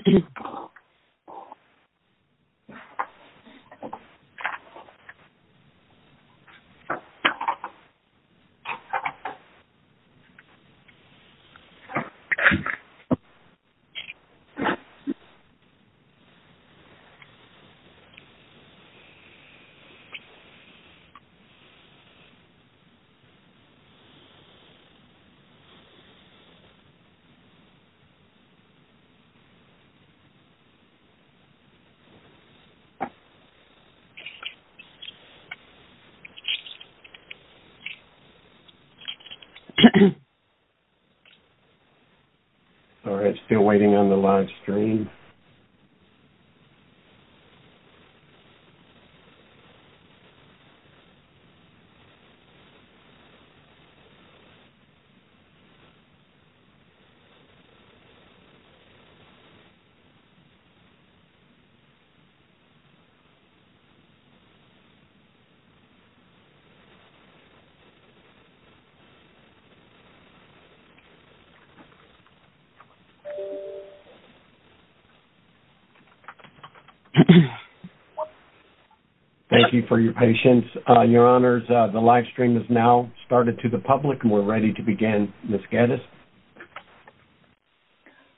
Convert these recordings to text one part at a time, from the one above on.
Geo Geovanni Sorry, it's waiting on the live stream. Thank you for your patience, your honors, the live stream has now started to the public and we're ready to begin, Ms. Gaddis.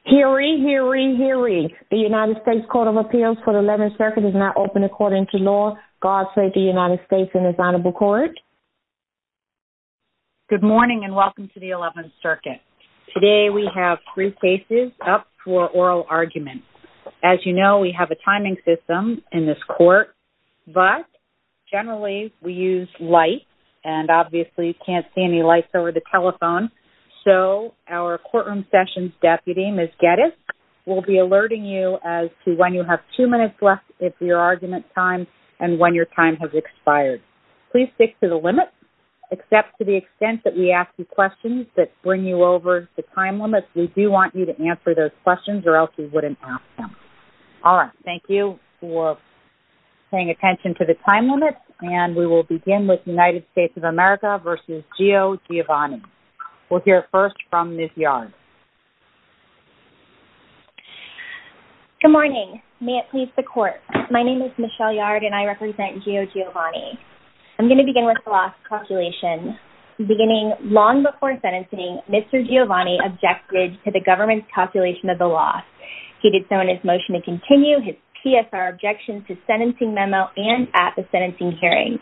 Hear ye, hear ye, hear ye. The United States Court of Appeals for the 11th Circuit is now open according to law. God save the United States and his Honorable Court. Good morning and welcome to the 11th Circuit. Today we have three cases up for oral argument. As you know, we have a timing system in this court, but generally we use light and obviously you can't see any lights over the telephone, so our courtroom sessions deputy, Ms. Gaddis, will be alerting you as to when you have two minutes left of your argument time and when your time has expired. Please stick to the limit, except to the extent that we ask you questions that bring you over the time limit. We do want you to answer those questions or else you wouldn't ask them. Alright, thank you for paying attention to the time limit and we will begin with United States Attorney General, Mr. Gio Giovanni. We'll hear first from Ms. Yard. Good morning. May it please the Court. My name is Michelle Yard and I represent Gio Giovanni. I'm going to begin with the loss calculation. Beginning long before sentencing, Mr. Giovanni objected to the government's calculation of the loss. He did so in his motion to continue, his PSR objection to sentencing memo and at the sentencing hearing.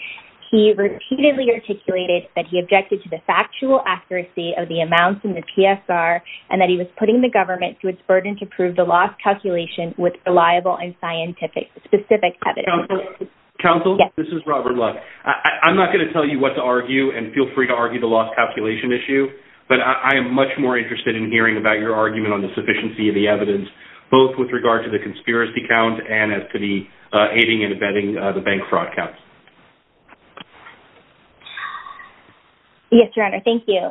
He repeatedly articulated that he objected to the factual accuracy of the amounts in the PSR and that he was putting the government to its burden to prove the loss calculation with reliable and scientific, specific evidence. Counsel, this is Robert Love. I'm not going to tell you what to argue and feel free to argue the loss calculation issue, but I am much more interested in hearing about your argument on the sufficiency of the evidence both with regard to the conspiracy count and as to the aiding and abetting the bank fraud count. Yes, Your Honor. Thank you.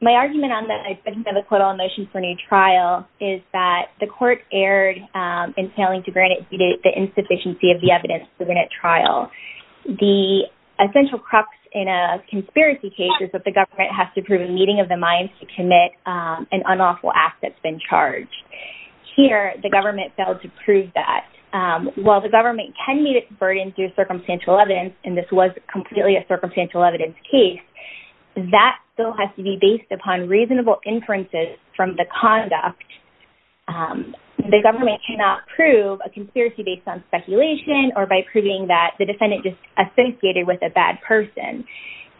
My argument on the quote-on-motion for a new trial is that the court erred in failing to grant it due to the insufficiency of the evidence during that trial. The essential crux in a conspiracy case is that the government has to prove a meeting of the minds to commit an unlawful act that's been charged. Here the government failed to prove that. While the government can meet its burden through circumstantial evidence, and this was completely a circumstantial evidence case, that still has to be based upon reasonable inferences from the conduct. The government cannot prove a conspiracy based on speculation or by proving that the defendant just associated with a bad person.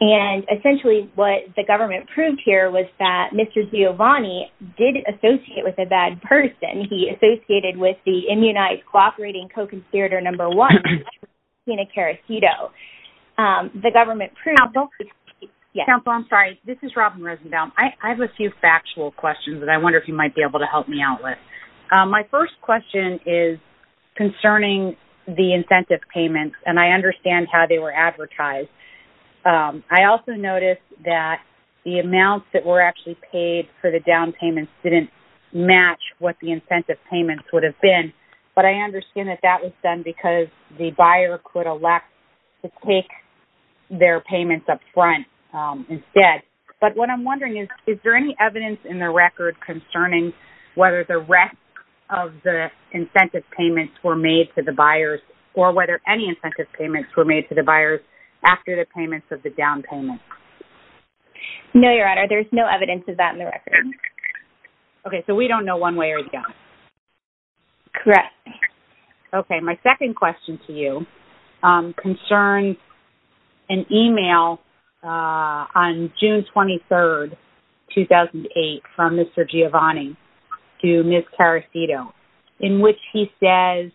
And essentially what the government proved here was that Mr. Giovanni did associate with a bad person. He associated with the immunized cooperating co-conspirator number one, Tina Karahito. The government proved... Counselor? Yes. Counselor, I'm sorry. This is Robin Rosenbaum. I have a few factual questions that I wonder if you might be able to help me out with. My first question is concerning the incentive payments, and I understand how they were advertised. I also noticed that the amounts that were actually paid for the down payments didn't match what the incentive payments would have been. But I understand that that was done because the buyer could elect to take their payments up front instead. But what I'm wondering is, is there any evidence in the record concerning whether the rest of the incentive payments were made to the buyers or whether any incentive payments were made to the buyers after the payments of the down payments? There's no evidence of that in the record. Okay. So we don't know one way or the other. Correct. Okay. My second question to you concerns an email on June 23, 2008, from Mr. Giovanni to Ms. Karahito in which he says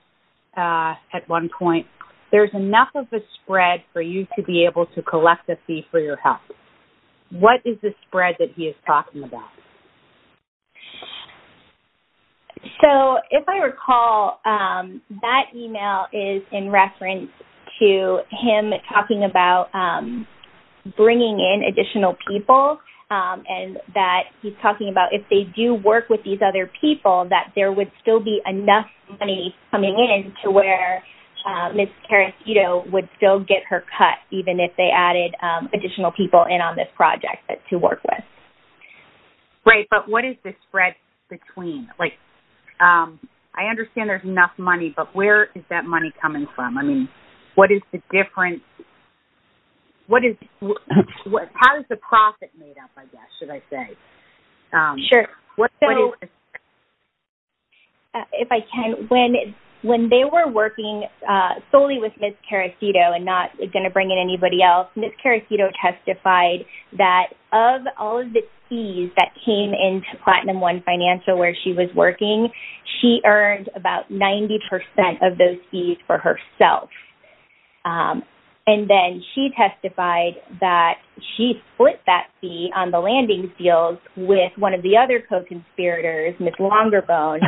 at one point, there's enough of a spread for you to be able to collect a fee for your health. What is the spread that he is talking about? So if I recall, that email is in reference to him talking about bringing in additional people and that he's talking about if they do work with these other people, that there would still be enough money coming in to where Ms. Karahito would still get her cut even if they added additional people in on this project to work with. Great. But what is the spread between? Like, I understand there's enough money, but where is that money coming from? I mean, what is the difference? What is... How is the profit made up, I guess, should I say? Sure. So, if I can, when they were working solely with Ms. Karahito and not going to bring in anybody else, Ms. Karahito testified that of all of the fees that came into Platinum One Financial where she was working, she earned about 90% of those fees for herself. And then she testified that she split that fee on the landing field with one of the other co-conspirators, Ms. Longerbone,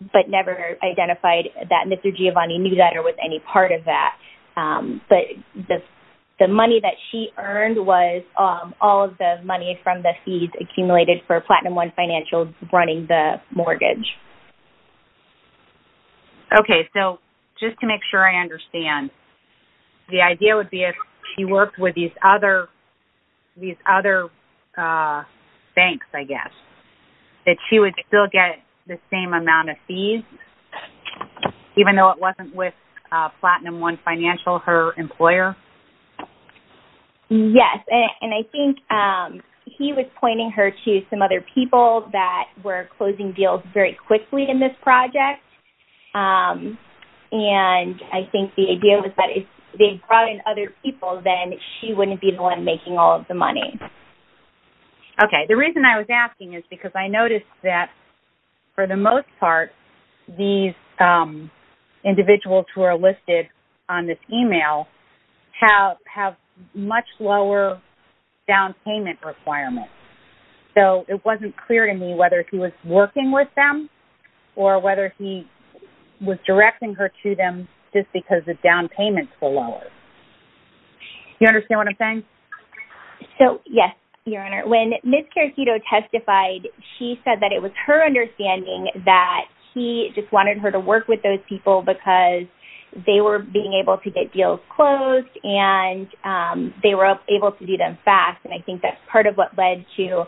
but never identified that Mr. Giovanni knew that or was any part of that. But the money that she earned was all of the money from the fees accumulated for Platinum One Financial running the mortgage. Okay. So, just to make sure I understand, the idea would be if she worked with these other banks, I guess, that she would still get the same amount of fees even though it wasn't with Platinum One Financial, her employer? Yes. And I think he was pointing her to some other people that were closing deals very quickly in this project. And I think the idea was that if they brought in other people, then she wouldn't be the one making all of the money. Okay. The reason I was asking is because I noticed that, for the most part, these individuals who are listed on this email have much lower down payment requirements. So, it wasn't clear to me whether he was working with them or whether he was directing her to them just because the down payments were lower. Do you understand what I'm saying? So, yes, Your Honor. When Ms. Caracito testified, she said that it was her understanding that he just wanted her to work with those people because they were being able to get deals closed and they were able to do them fast. And I think that's part of what led to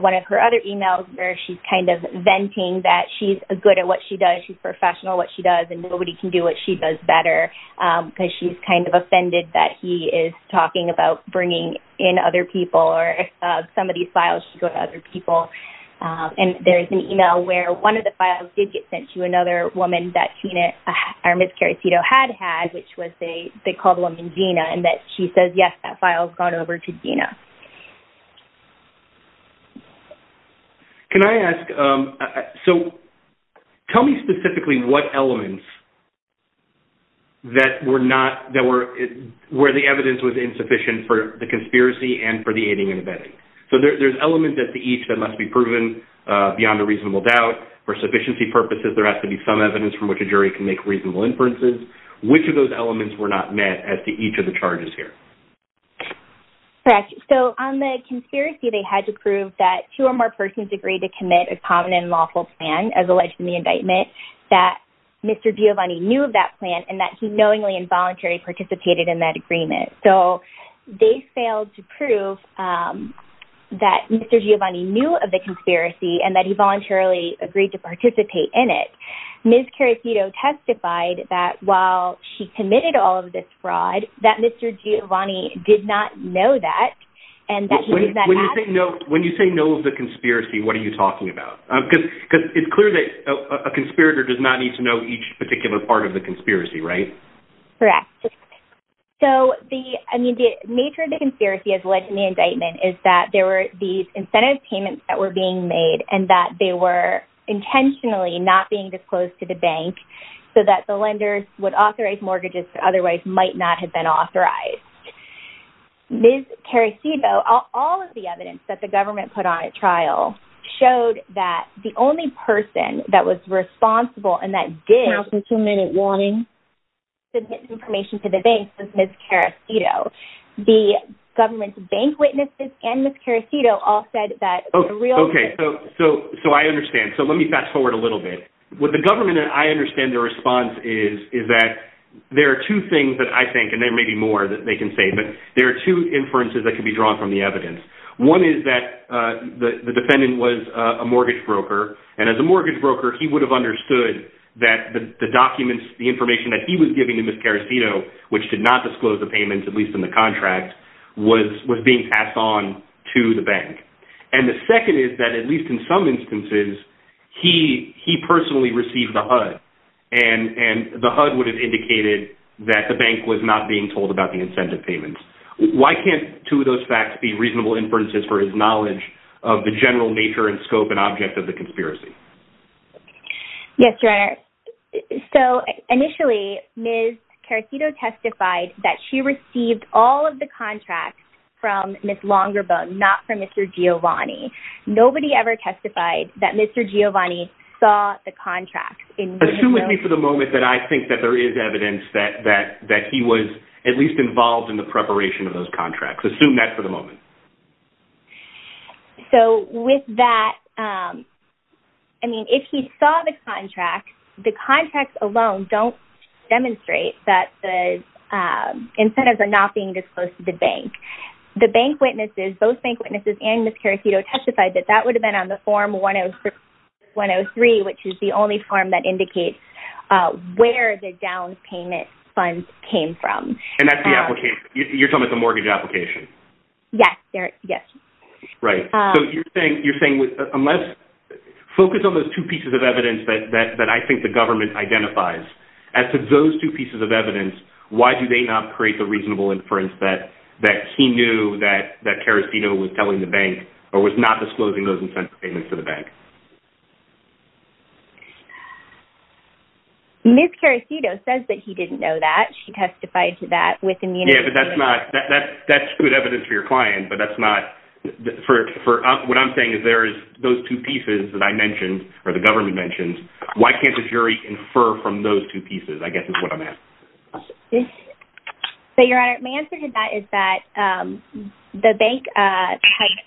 one of her other emails where she's kind of venting that she's good at what she does, she's professional at what she does, and nobody can do what she does better because she's kind of offended that he is talking about bringing in other people or some of these files should go to other people. And there is an email where one of the files did get sent to another woman that Tina or Ms. Caracito had had, which was they called the woman Gina, and that she says, yes, that file has gone over to Gina. Can I ask, so tell me specifically what elements that were not, that were, where the evidence was insufficient for the conspiracy and for the aiding and abetting. So there's elements as to each that must be proven beyond a reasonable doubt. For sufficiency purposes, there has to be some evidence from which a jury can make reasonable inferences. Which of those elements were not met as to each of the charges here? Correct. So on the conspiracy, they had to prove that two or more persons agreed to commit a common and lawful plan as alleged in the indictment, that Mr. Giovanni knew of that plan and that he knowingly and voluntarily participated in that agreement. So they failed to prove that Mr. Giovanni knew of the conspiracy and that he voluntarily agreed to participate in it. Ms. Caracito testified that while she committed all of this fraud, that Mr. Giovanni did not know that and that he did not ask for it. When you say knows the conspiracy, what are you talking about? Because it's clear that a conspirator does not need to know each particular part of the conspiracy, right? Correct. So the nature of the conspiracy as alleged in the indictment is that there were these incentive payments that were being made and that they were intentionally not being disclosed to the bank so that the lenders would authorize mortgages that otherwise might not have been authorized. Ms. Caracito, all of the evidence that the government put on at trial showed that the only person that was responsible and that did... Counsel, two-minute warning. ...submit information to the bank was Ms. Caracito. The government's bank witnesses and Ms. Caracito all said that the real... Okay. So I understand. So let me fast forward a little bit. With the government, I understand their response is that there are two things that I think and there may be more that they can say, but there are two inferences that can be drawn from the evidence. One is that the defendant was a mortgage broker and as a mortgage broker, he would have understood that the documents, the information that he was giving to Ms. Caracito, which did not disclose the payments, at least in the contract, was being passed on to the bank. And the second is that at least in some instances, he personally received the HUD and the HUD would have indicated that the bank was not being told about the incentive payments. Why can't two of those facts be reasonable inferences for his knowledge of the general nature and scope and object of the conspiracy? Yes, Your Honor. So initially, Ms. Caracito testified that she received all of the contracts from Ms. Longerbone, not from Mr. Giovanni. Nobody ever testified that Mr. Giovanni saw the contracts. Assume with me for the moment that I think that there is evidence that he was at least involved in the preparation of those contracts. Assume that for the moment. So with that, I mean, if he saw the contracts, the contracts alone don't demonstrate that the incentives are not being disclosed to the bank. The bank witnesses, both bank witnesses and Ms. Caracito testified that that would have been on the form 103, which is the only form that indicates where the down payment funds came from. And that's the application? You're talking about the mortgage application? Yes. Yes. Right. So you're saying, unless, focus on those two pieces of evidence that I think the government identifies. As to those two pieces of evidence, why do they not create the reasonable inference that he knew that Caracito was telling the bank or was not disclosing those incentive payments to the bank? Ms. Caracito says that he didn't know that. She testified to that with immunity. Yeah, but that's not, that's good evidence for your client, but that's not, for, what I'm saying is there is those two pieces that I mentioned, or the government mentioned, why can't the jury infer from those two pieces, I guess is what I'm asking. So, Your Honor, my answer to that is that the bank type,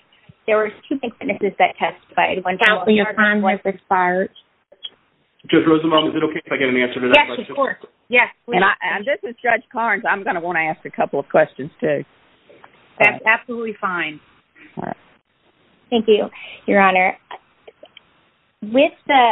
there were two bank witnesses that testified. Judge Rosenbaum, is it okay if I get an answer to that? Yes, of course. Yes. And this is Judge Carnes, I'm going to want to ask a couple of questions too. That's absolutely fine. Thank you, Your Honor. With the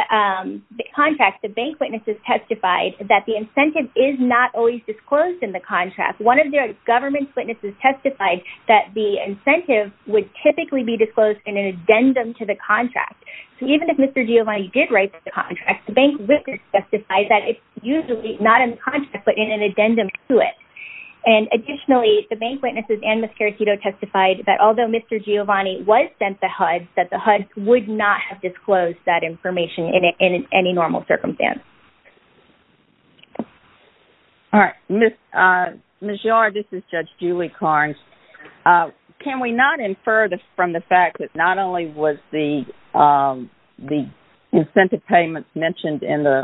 contract, the bank witnesses testified that the incentive is not always disclosed in the contract. One of their government's witnesses testified that the incentive would typically be disclosed in an addendum to the contract. So even if Mr. Giovanni did write the contract, the bank witness testified that it's usually not in the contract, but in an addendum to it. And additionally, the bank witnesses and Ms. Caritito testified that although Mr. Giovanni was sent the HUD, that the HUD would not have disclosed that information in any normal circumstance. All right. Ms. Yar, this is Judge Julie Carnes. Can we not infer from the fact that not only was the incentive payment mentioned in the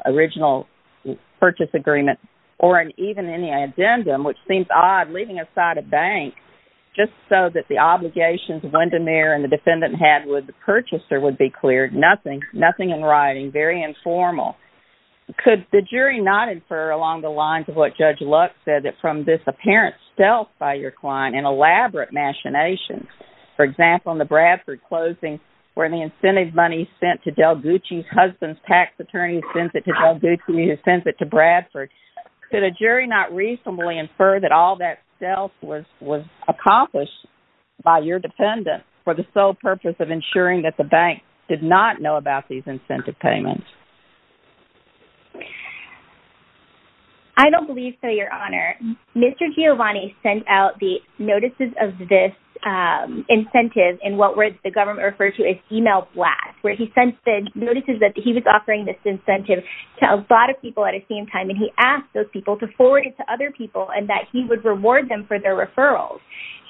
purchase agreement or even in the addendum, which seems odd, leaving aside a bank, just so that the obligations Wendemere and the defendant had with the purchaser would be cleared, nothing, nothing in writing, very informal. Could the jury not infer along the lines of what Judge Lux said that from this apparent stealth by your client, an elaborate machination, for example, in the Bradford closing, where the incentive money sent to Del Gucci's husband's tax attorney sends it to Del Gucci, who sends it to Bradford, could a jury not reasonably infer that all that stealth was accomplished by your defendant for the sole purpose of ensuring that the bank did not know about these incentive payments? I don't believe so, Your Honor. Mr. Giovanni sent out the notices of this incentive in what the government referred to as email blast, where he sent the notices that he was offering this incentive to a lot of people at the same time, and he asked those people to forward it to other people and that he would reward them for their referrals.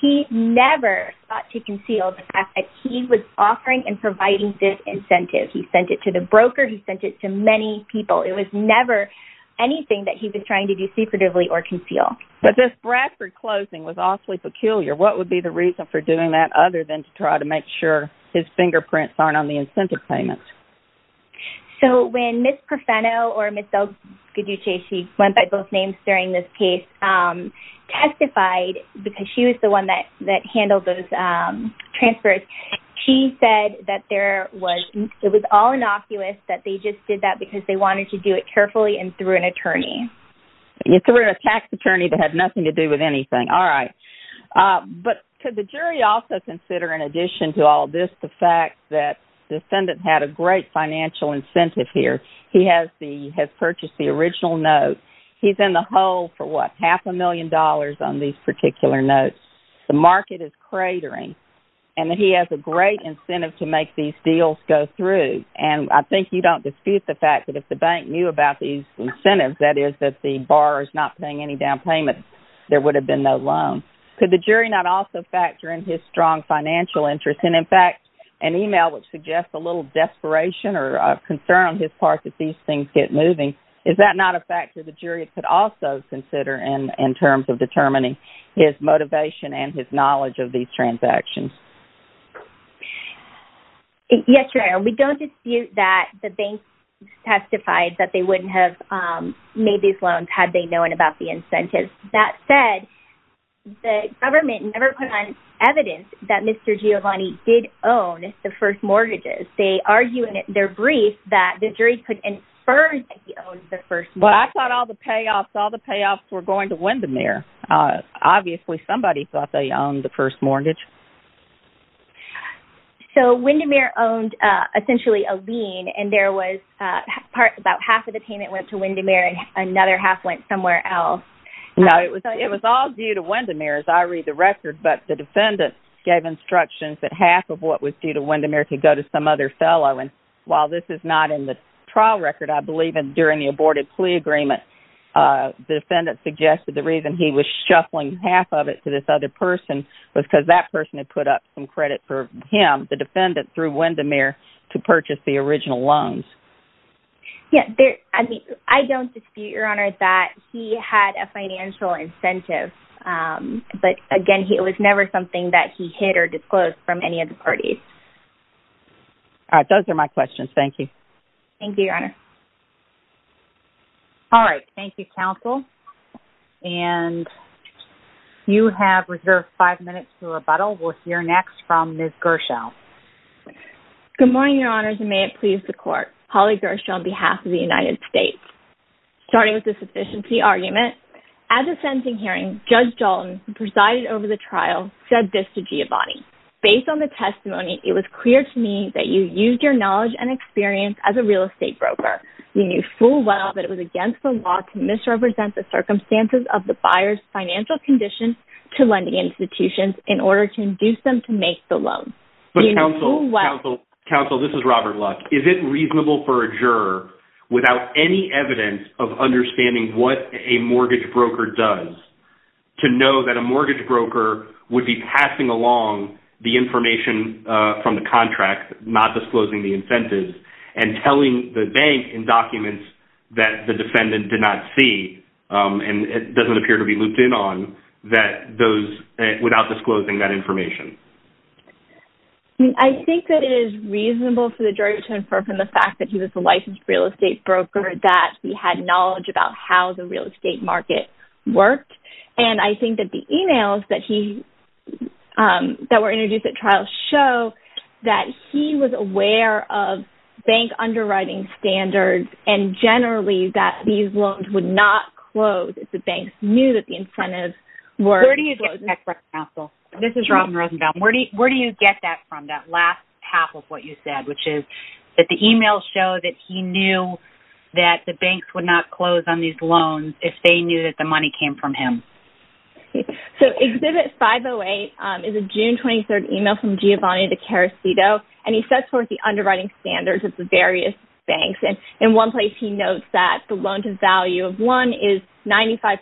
He never sought to conceal the fact that he was offering and providing this incentive. He sent it to the broker. He sent it to many people. It was never anything that he was trying to do secretively or conceal. But this Bradford closing was awfully peculiar. What would be the reason for doing that other than to try to make sure his fingerprints aren't on the incentive payments? So when Ms. Perfeno or Ms. DelGaduce, she went by both names during this case, testified because she was the one that handled those transfers, she said that it was all innocuous that they just did that because they wanted to do it carefully and through an attorney. Through a tax attorney that had nothing to do with anything. All right. But could the jury also consider in addition to all this the fact that the defendant had a great financial incentive here? He has purchased the original note. He's in the hole for, what, half a million dollars on these particular notes. The market is cratering. And he has a great incentive to make these deals go through. And I think you don't dispute the fact that if the bank knew about these incentives, that is that the borrower is not paying any down payment, there would have been no loan. Could the jury not also factor in his strong financial interest? And in fact, an email would suggest a little desperation or concern on his part that these things get moving. Is that not a factor the jury could also consider in terms of determining his motivation and his knowledge of these transactions? Yes, Your Honor. We don't dispute that the bank testified that they wouldn't have made these loans had they known about the incentives. That said, the government never put on evidence that Mr. Giovanni did own the first mortgages. They argue in their brief that the jury could infer that he owned the first mortgage. Well, I thought all the payoffs, all the payoffs were going to Windermere. Obviously, somebody thought they owned the first mortgage. So Windermere owned essentially a lien. And there was about half of the payment went to Windermere and another half went somewhere else. No, it was all due to Windermere, as I read the record. But the defendant gave instructions that half of what was due to Windermere could go to some other fellow. And while this is not in the trial record, I believe during the aborted plea agreement, the defendant suggested the reason he was shuffling half of it to this other person was because that person had put up some credit for him, the defendant, through Windermere to purchase the original loans. Yeah, I don't dispute, Your Honor, that he had a financial incentive. But again, it was never something that he hid or disclosed from any of the parties. Those are my questions. Thank you. Thank you, Your Honor. All right. Thank you, counsel. And you have reserved five minutes to rebuttal. Good morning, Your Honor. Good morning, Your Honors. And may it please the Court. Holly Gershaw on behalf of the United States. Starting with the sufficiency argument, at the sentencing hearing, Judge Dalton, who presided over the trial, said this to Giovanni. Based on the testimony, it was clear to me that you used your knowledge and experience as a real estate broker. You knew full well that it was against the law to misrepresent the circumstances of the buyer's financial conditions to lending institutions in order to induce them to make the loan. Counsel, this is Robert Luck. Is it reasonable for a juror, without any evidence of understanding what a mortgage broker does, to know that a mortgage broker would be passing along the information from the contract, not disclosing the incentive, and telling the bank in documents that the defendant did not see, and it doesn't appear to be looped in on, without disclosing that information? I think that it is reasonable for the juror to infer from the fact that he was a licensed real estate broker that he had knowledge about how the real estate market worked. And I think that the emails that were introduced at trial show that he was aware of bank underwriting standards, and generally that these loans would not close if the banks knew that the incentives were... Where do you get that from, Counsel? This is Robin Rosenbaum. Where do you get that from, that last half of what you said, which is that the emails show that he knew that the banks would not close on these loans if they knew that the money came from him? So, Exhibit 508 is a June 23rd email from Giovanni DeCarosito, and he sets forth the underwriting standards of the various banks, and in one place he notes that the loan to value of one is 95%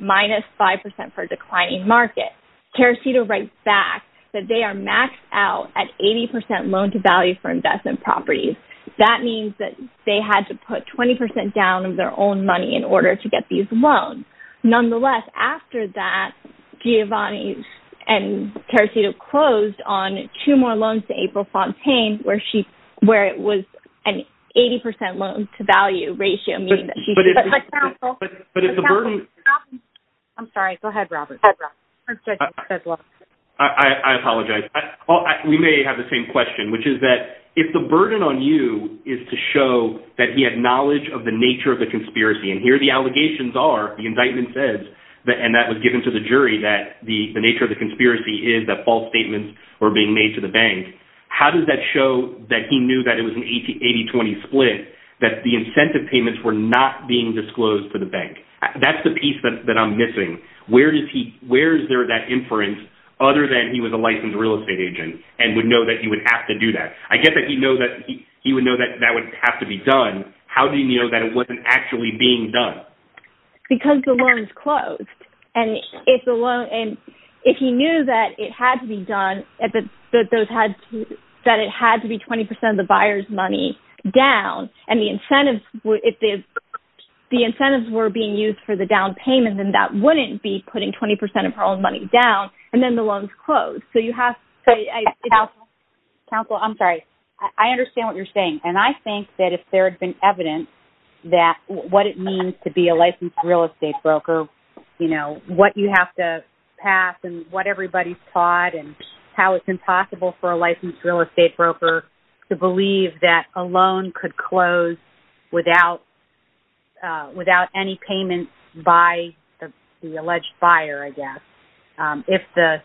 minus 5% for a declining market. DeCarosito writes back that they are maxed out at 80% loan to value for investment properties. That means that they had to put 20% down of their own money in order to get these loans. Nonetheless, after that, Giovanni and DeCarosito closed on two more loans to April Fontaine where it was an 80% loan to value ratio, meaning that she... But if the burden... I'm sorry. Go ahead, Robert. I apologize. We may have the same question, which is that if the burden on you is to show that he had knowledge of the nature of the conspiracy, and here the allegations are, the indictment says, and that was given to the jury, that the nature of the conspiracy is that false statements were being made to the bank, how does that show that he knew that it was an 80-20 split, that the incentive payments were not being disclosed to the bank? That's the piece that I'm missing. Where is there that inference other than he was a licensed real estate agent and would know that he would have to do that? I get that he would know that that would have to be done. How did he know that it wasn't actually being done? Because the loans closed. And if he knew that it had to be done, that it had to be 20% of the buyer's money down, and the incentives were being used for the down payment, then that wouldn't be putting 20% of her own money down, and then the loans closed. So you have to... Counsel, I'm sorry. I understand what you're saying. And I think that if there had been evidence that what it means to be a licensed real estate broker, you know, what you have to pass and what everybody's taught and how it's impossible for a licensed real estate broker to believe that a loan could close without any payment by the alleged buyer, I guess, if the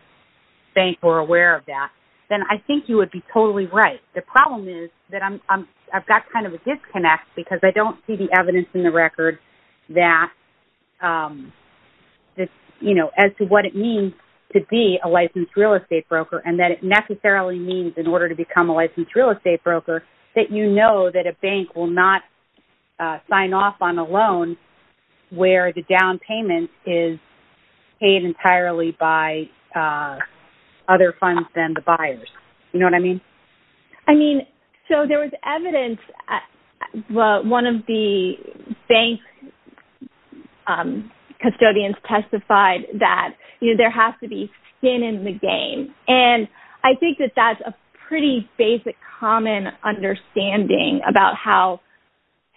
bank were aware of that, then I think you would be totally right. The problem is that I've got kind of a disconnect because I don't see the evidence in the record that, you know, as to what it means to be a licensed real estate broker and that it necessarily means in order to become a licensed real estate broker that you know that a bank will not sign off on a loan where the down payment is paid entirely by other funds than the buyers. You know what I mean? I mean, so there was evidence. Well, one of the bank custodians testified that, you know, there has to be skin in the game. And I think that that's a pretty basic common understanding about how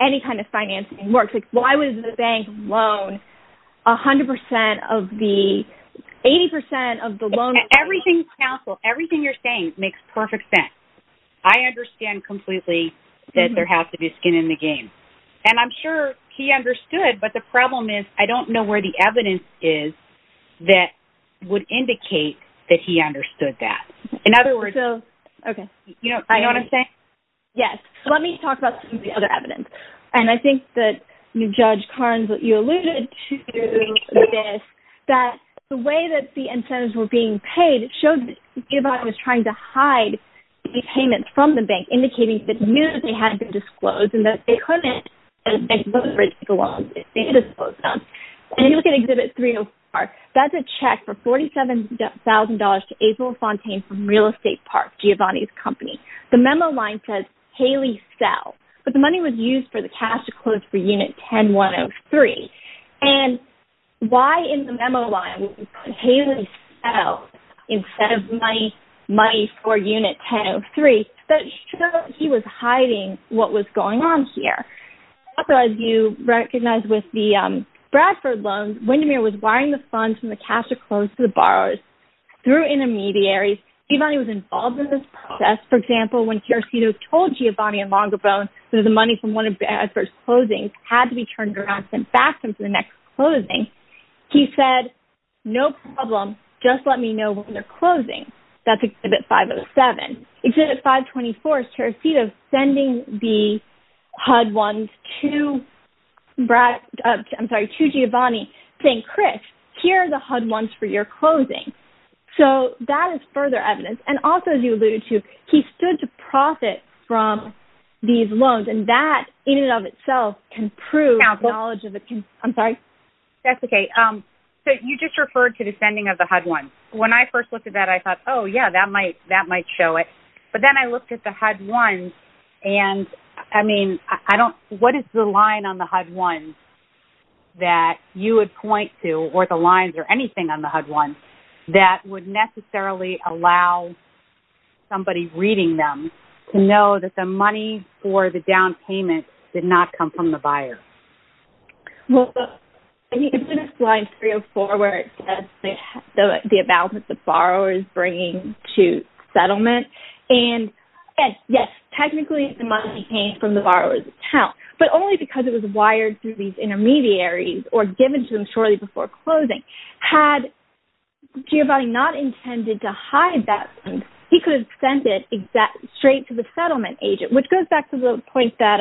any kind of financing works. Like, why was the bank loan 100% of the... 80% of the loan... Everything you're saying makes perfect sense. I understand completely that there has to be skin in the game. And I'm sure he understood, but the problem is I don't know where the evidence is that would indicate that he understood that. In other words... Okay. You know what I'm saying? Yes. Let me talk about some of the other evidence. And I think that Judge Carnes, you alluded to this, that the way that the incentives were being paid showed that Giovanni was trying to hide the payments from the bank, indicating that he knew that they hadn't been disclosed and that they couldn't... And you look at Exhibit 304. That's a check for $47,000 to April Fontaine from Real Estate Park, Giovanni's company. The memo line says, Haley Sell. But the money was used for the cash to close for Unit 10-103. And why in the memo line, Haley Sell, instead of money for Unit 10-103, that showed he was hiding what was going on here. Also, as you recognize with the Bradford loans, Windermere was wiring the funds from the cash to close to the borrowers through intermediaries. Giovanni was involved in this process. For example, when Tarasino told Giovanni in Longerbone that the money from one of Bradford's closings had to be turned around and sent back to him for the next closing, he said, no problem. Just let me know when they're closing. That's Exhibit 507. Exhibit 524 is Tarasino sending the HUD ones to Giovanni, saying, Chris, here are the HUD ones for your closing. So that is further evidence. And also, as you alluded to, he stood to profit from these loans. And that, in and of itself, can prove knowledge of the... I'm sorry. That's okay. So you just referred to the sending of the HUD ones. When I first looked at that, I thought, oh, yeah, that might show it. But then I looked at the HUD ones, and I mean, I don't... What is the line on the HUD ones that you would point to, or the lines or anything on the HUD ones, that would necessarily allow somebody reading them to know that the money for the down payment did not come from the buyer? Well, it's in slide 304, where it says the amount that the borrower is bringing to settlement. And, yes, technically, it must be paid from the borrower's account. But only because it was wired through these intermediaries or given to them shortly before closing. Had Giovanni not intended to hide that, he could have sent it straight to the settlement. And it goes back to the point that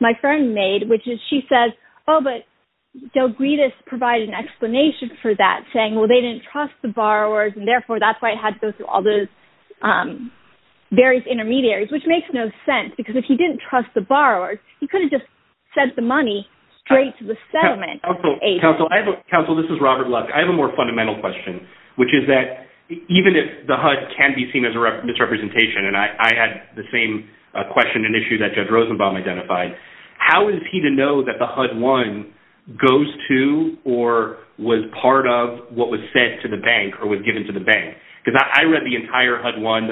my friend made, which is she says, oh, but Delgridis provided an explanation for that, saying, well, they didn't trust the borrowers, and, therefore, that's why it had to go through all those various intermediaries, which makes no sense. Because if he didn't trust the borrowers, he could have just sent the money straight to the settlement. Council, this is Robert Love. I have a more fundamental question, which is that even if the HUD can be seen as a misrepresentation of an issue that Judge Rosenbaum identified, how is he to know that the HUD-1 goes to or was part of what was said to the bank or was given to the bank? Because I read the entire HUD-1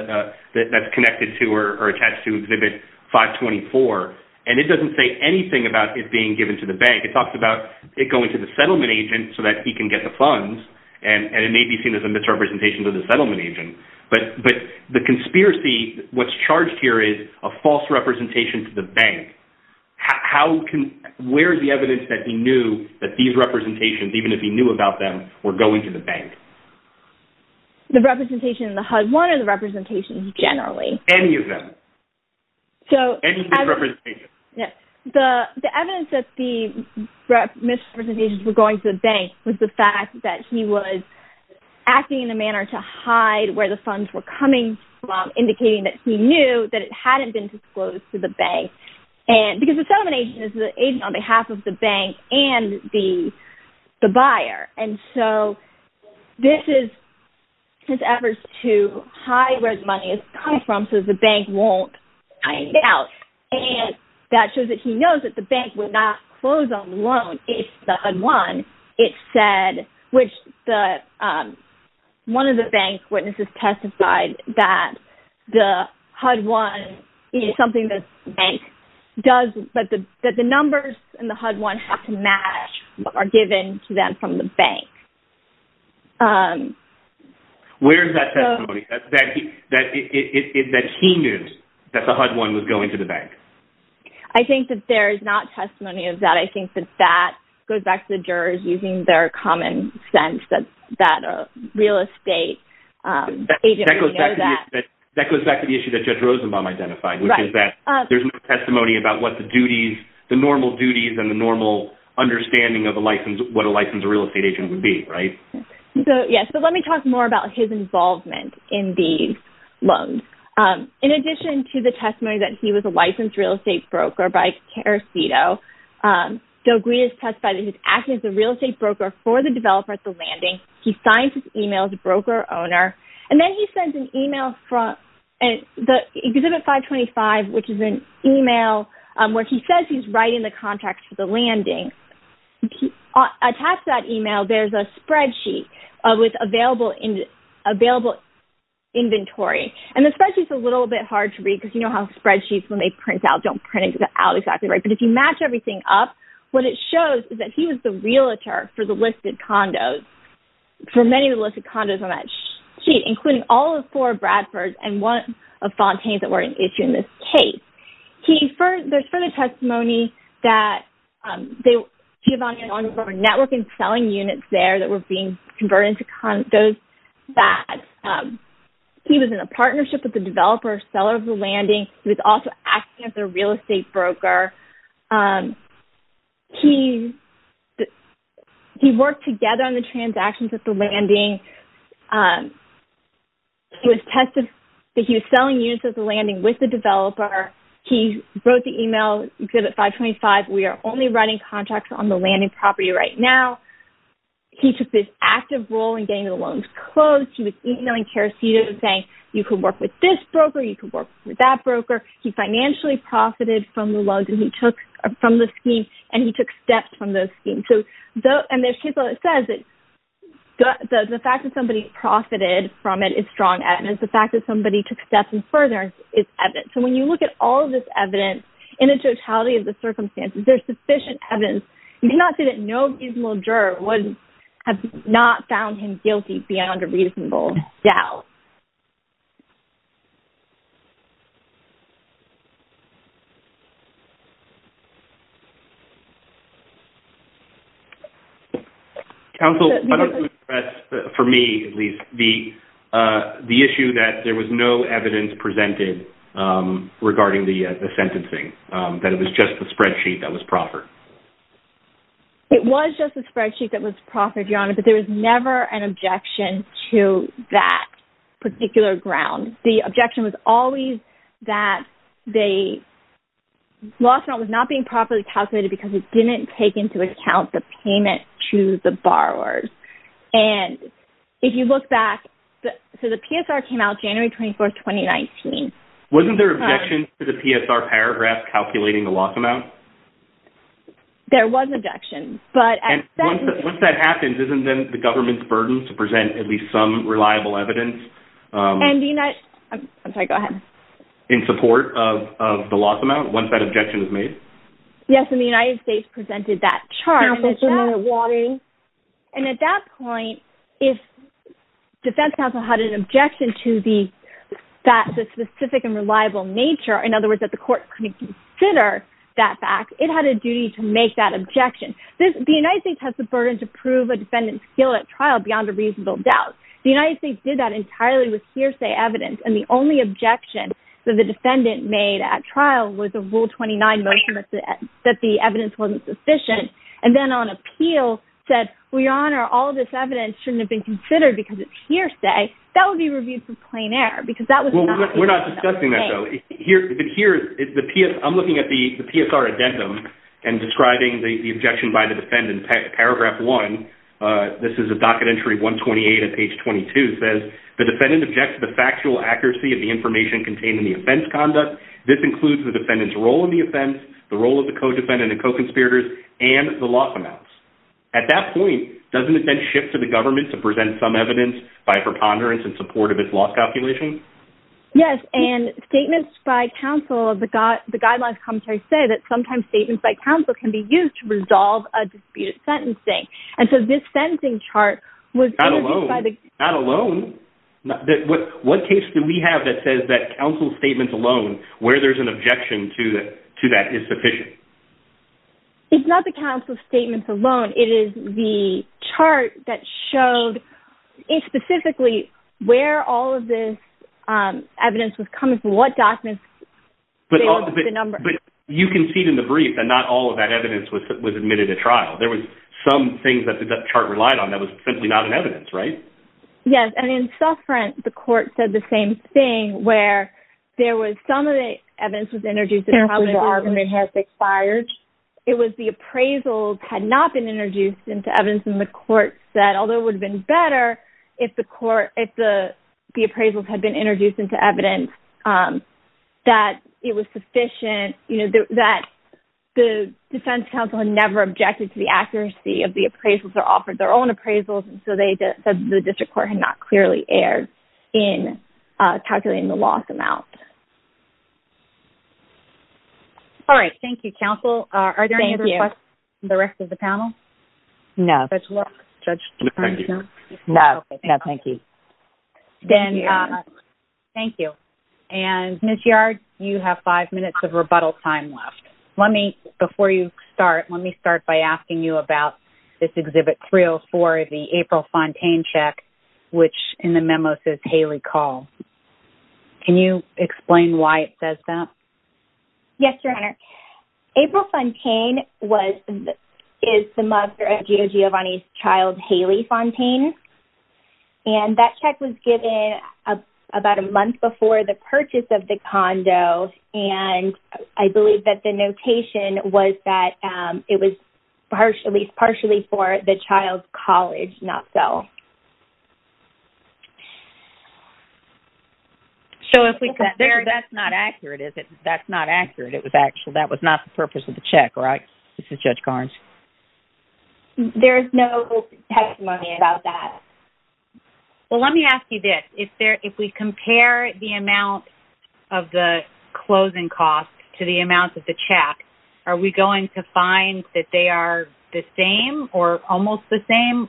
that's connected to or attached to Exhibit 524, and it doesn't say anything about it being given to the bank. It talks about it going to the settlement agent so that he can get the funds, and it may be seen as a misrepresentation to the settlement agent. But the conspiracy, what's charged here is a false representation to the bank. Where is the evidence that he knew that these representations, even if he knew about them, were going to the bank? The representation in the HUD-1 or the representations generally? Any of them. Any misrepresentations. The evidence that the misrepresentations were going to the bank was the fact that he was acting in a manner to hide where the funds were coming from, indicating that he knew that it hadn't been disclosed to the bank. Because the settlement agent is the agent on behalf of the bank and the buyer. And so this is his efforts to hide where the money has come from so that the bank won't find out. And that shows that he knows that the bank would not close on the loan if the HUD-1 it said, which one of the bank witnesses testified that the HUD-1, something that the bank does, that the numbers in the HUD-1 have to match what are given to them from the bank. Where is that testimony that he knew that the HUD-1 was going to the bank? I think that there is not testimony of that. But I think that that goes back to the jurors using their common sense that a real estate agent would know that. That goes back to the issue that Judge Rosenbaum identified, which is that there is no testimony about what the duties, the normal duties and the normal understanding of what a licensed real estate agent would be, right? Yes. But let me talk more about his involvement in these loans. In addition to the testimony that he was a licensed real estate broker by Teresito, Del Gris has testified that he's acting as a real estate broker for the developer at the landing. He signs his email as a broker owner. And then he sends an email from the Exhibit 525, which is an email where he says he's writing the contract for the landing. Attached to that email, there's a spreadsheet with available inventory. And the spreadsheet is a little bit hard to read because you know how spreadsheets, when they print out, don't print it out exactly right. But if you match everything up, what it shows is that he was the realtor for the listed condos, for many of the listed condos on that sheet, including all of four of Bradford's and one of Fontaine's that were an issue in this case. There's further testimony that Giovanni and Andre were network and selling units there that were being converted into condos. He was in a partnership with the developer, seller of the landing. He was also acting as a real estate broker. He worked together on the transactions at the landing. He was selling units at the landing with the developer. He wrote the email, Exhibit 525, we are only writing contracts on the landing property right now. He took this active role in getting the loans closed. He was emailing Teresita and saying, you can work with this broker, you can work with that broker. He financially profited from the loans that he took from the scheme and he took steps from those schemes. And there's people that says that the fact that somebody profited from it is strong evidence. The fact that somebody took steps and further is evidence. So when you look at all of this evidence in the totality of the circumstances, there's sufficient evidence. You cannot say that no reasonable juror has not found him guilty beyond a reasonable doubt. Council, for me at least, the issue that there was no evidence presented regarding the sentencing, that it was just a spreadsheet that was proffered. It was just a spreadsheet that was proffered, Your Honor, but there was never an objection to that particular ground. The objection was always that the loss amount was not being properly calculated because it didn't take into account the payment to the borrowers. And if you look back, so the PSR came out January 24, 2019. Wasn't there an objection to the PSR paragraph calculating the loss amount? There was an objection. And once that happens, isn't then the government's burden to present at least some reliable evidence in support of the loss amount once that objection is made? Yes, and the United States presented that chart. And at that point, if defense counsel had an objection to that specific and reliable nature, in other words, that the court couldn't consider that fact, it had a duty to make that objection. The United States has the burden to prove a defendant's skill at trial beyond a reasonable doubt. The United States did that entirely with hearsay evidence, and the only objection that the defendant made at trial was a Rule 29 motion that the evidence wasn't sufficient. And then on appeal said, we honor all this evidence shouldn't have been considered because it's hearsay. That would be reviewed for plain error because that was not the case. Well, we're not discussing that, though. I'm looking at the PSR addendum and describing the objection by the defendant. Paragraph one, this is a docket entry 128 of page 22, says, the defendant objects to the factual accuracy of the information contained in the offense conduct. This includes the defendant's role in the offense, the role of the co-defendant and co-conspirators, and the loss amounts. At that point, doesn't it then shift to the government to present some evidence by preponderance in support of its loss calculation? Yes, and statements by counsel, the guidelines commentary say that sometimes statements by counsel can be used to resolve a disputed sentencing. And so this sentencing chart was interviewed by the... Not alone. Not alone. What case do we have that says that counsel's statements alone, where there's an objection to that, is sufficient? It's not the counsel's statements alone. It is the chart that showed specifically where all of this evidence was coming from, what documents... But you can see it in the brief that not all of that evidence was admitted to trial. There was some things that the chart relied on that was simply not in evidence, right? Yes, and in Suffrent, the court said the same thing where there was some of the evidence was introduced... Counsel's argument has expired. It was the appraisals had not been introduced into evidence, and the court said, although it would have been better if the appraisals had been introduced into evidence, that it was sufficient, that the defense counsel had never objected to the accuracy of the appraisals or offered their own appraisals, and so they said the district court had not clearly erred in calculating the loss amount. All right. Thank you, counsel. Thank you. Are there any other questions from the rest of the panel? No. Judge Luck? No. No, thank you. Then... Thank you. Thank you. And, Ms. Yard, you have five minutes of rebuttal time left. Let me... Before you start, let me start by asking you about this Exhibit 304 of the April Fontaine check, which in the memo says, Haley Call. Can you explain why it says that? Yes, Your Honor. April Fontaine was... Is the mother of Gio Giovanni's child, Haley Fontaine, and that check was given about a month before the purchase of the condo, and I believe that the notation was that it was partially for the child's college, not so. So if we could... That's not accurate, is it? That's not accurate. It was actual... That was not the purpose of the check, right? This is Judge Garns. There is no testimony about that. Well, let me ask you this. If we compare the amount of the closing cost to the amount of the check, are we going to find that they are the same or almost the same?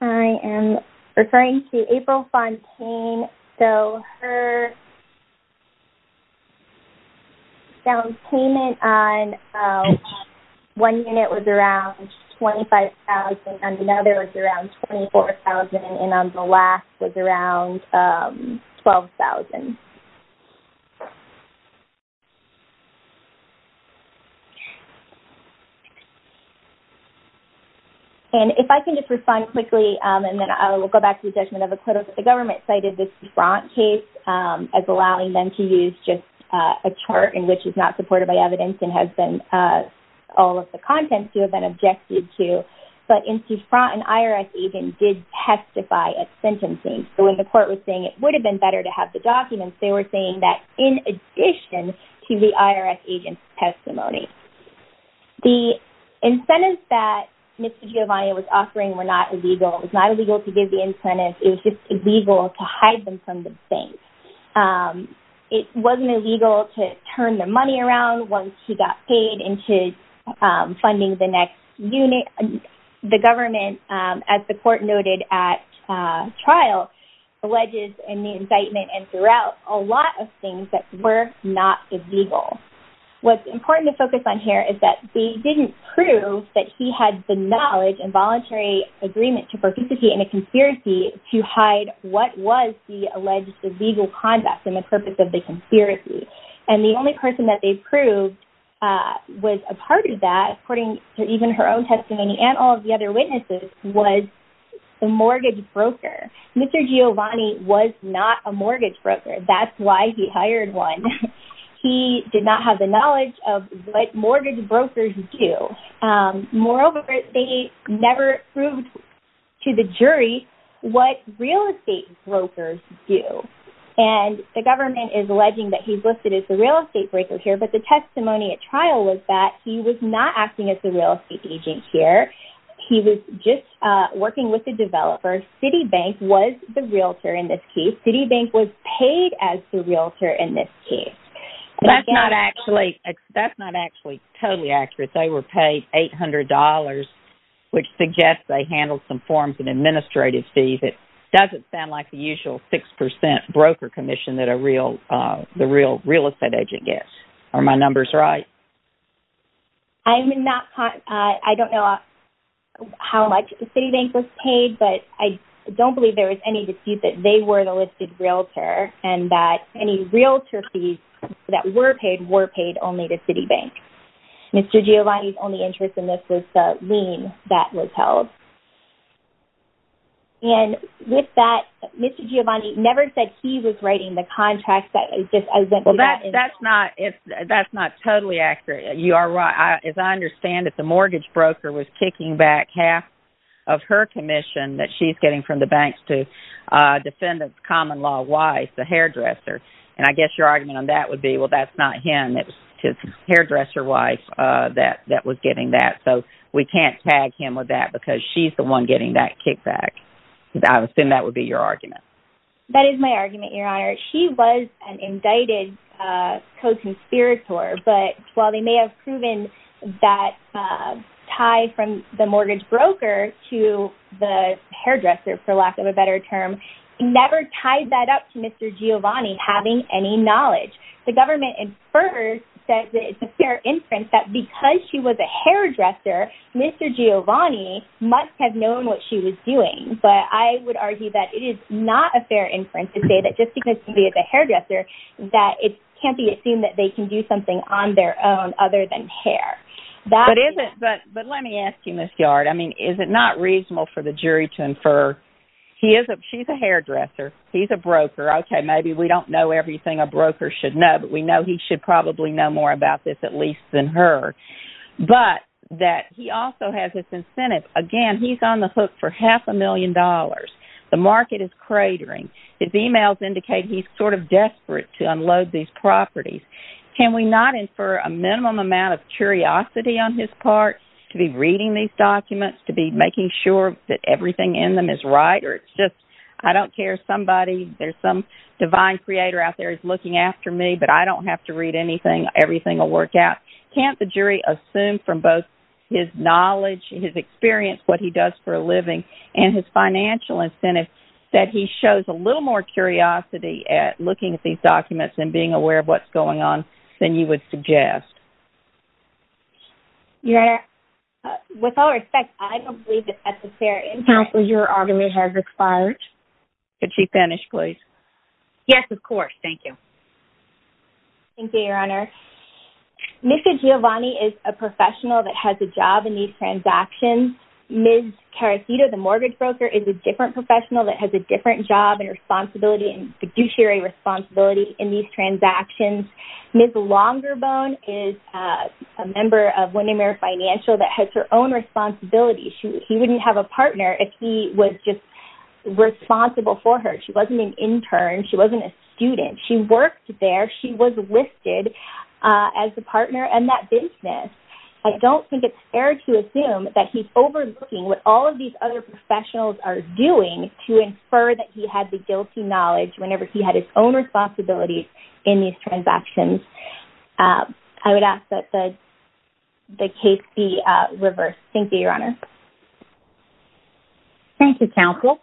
I am referring to April Fontaine. So her down payment on one unit was around $25,000, and another was around $24,000, and the last was around $12,000. And if I can just respond quickly, and then I will go back to the judgment of the court of the government, cited this Dufrant case as allowing them to use just a chart in which it's not supported by evidence and has been... All of the contents to have been objected to, but in Dufrant, an IRS agent did testify at sentencing. So when the court was saying it would have been better to have the documents, they were saying that in addition to the IRS agent's testimony. The incentives that Mr. Giovanni was offering were not illegal. It was not illegal to give the incentives. It was just illegal to hide them from the bank. It wasn't illegal to turn the money around once he got paid into funding the next unit. The government, as the court noted at trial, alleges in the incitement and throughout a lot of things that were not illegal. What's important to focus on here is that they didn't prove that he had the knowledge and voluntary agreement to participate in a conspiracy to hide what was the alleged illegal conduct and the purpose of the conspiracy. And the only person that they proved was a part of that, according to even her own testimony, and all of the other witnesses, was a mortgage broker. Mr. Giovanni was not a mortgage broker. That's why he hired one. He did not have the knowledge of what mortgage brokers do. Moreover, they never proved to the jury what real estate brokers do. And the government is alleging that he's listed as a real estate broker here, but the testimony at trial was that he was not acting as a real estate agent here. He was just working with a developer. Citibank was the realtor in this case. Citibank was paid as the realtor in this case. That's not actually totally accurate. They were paid $800, which suggests they handled some forms and administrative fees. It doesn't sound like the usual 6% broker commission that a real estate agent gets. Are my numbers right? I don't know how much Citibank was paid, but I don't believe there was any dispute that they were the listed realtor and that any realtor fees that were paid were paid only to Citibank. Mr. Giovanni's only interest in this was the lien that was held. And with that, Mr. Giovanni never said he was writing the contract. That's not totally accurate. As I understand it, the mortgage broker was kicking back half of her commission that she's getting from the banks to defendant's common law wife, the hairdresser. And I guess your argument on that would be, well, that's not him. It's his hairdresser wife that was getting that. So we can't tag him with that because she's the one getting that kickback. I assume that would be your argument. That is my argument, Your Honor. She was an indicted co-conspirator. But while they may have proven that tie from the mortgage broker to the hairdresser, for lack of a better term, never tied that up to Mr. Giovanni having any knowledge. The government inferred that it's a fair inference that because she was a hairdresser, Mr. Giovanni must have known what she was doing. But I would argue that it is not a fair inference to say that just because she's a hairdresser that it can't be assumed that they can do something on their own other than hair. But let me ask you, Ms. Yard. I mean, is it not reasonable for the jury to infer she's a hairdresser, he's a broker. Okay, maybe we don't know everything a broker should know, but we know he should probably know more about this at least than her. But that he also has this incentive. Again, he's on the hook for half a million dollars. The market is cratering. His emails indicate he's sort of desperate to unload these properties. Can we not infer a minimum amount of curiosity on his part to be reading these documents, to be making sure that everything in them is right? Or it's just, I don't care, somebody, there's some divine creator out there is looking after me, but I don't have to read anything. Everything will work out. Can't the jury assume from both his knowledge, his experience, what he does for a living, and his financial incentive that he shows a little more curiosity at looking at these documents and being aware of what's going on than you would suggest? Your Honor, with all respect, I don't believe it's necessary. Counsel, your argument has expired. Could she finish, please? Yes, of course. Thank you. Thank you, Your Honor. Jessica Giovanni is a professional that has a job in these transactions. Ms. Carasita, the mortgage broker, is a different professional that has a different job and responsibility and fiduciary responsibility in these transactions. Ms. Longerbone is a member of Windermere Financial that has her own responsibility. She wouldn't have a partner if he was just responsible for her. She wasn't an intern. She wasn't a student. She worked there. She was listed as a partner in that business. I don't think it's fair to assume that he's overlooking what all of these other professionals are doing to infer that he had the guilty knowledge whenever he had his own responsibility in these transactions. I would ask that the case be reversed. Thank you, Your Honor. Thank you, Counsel.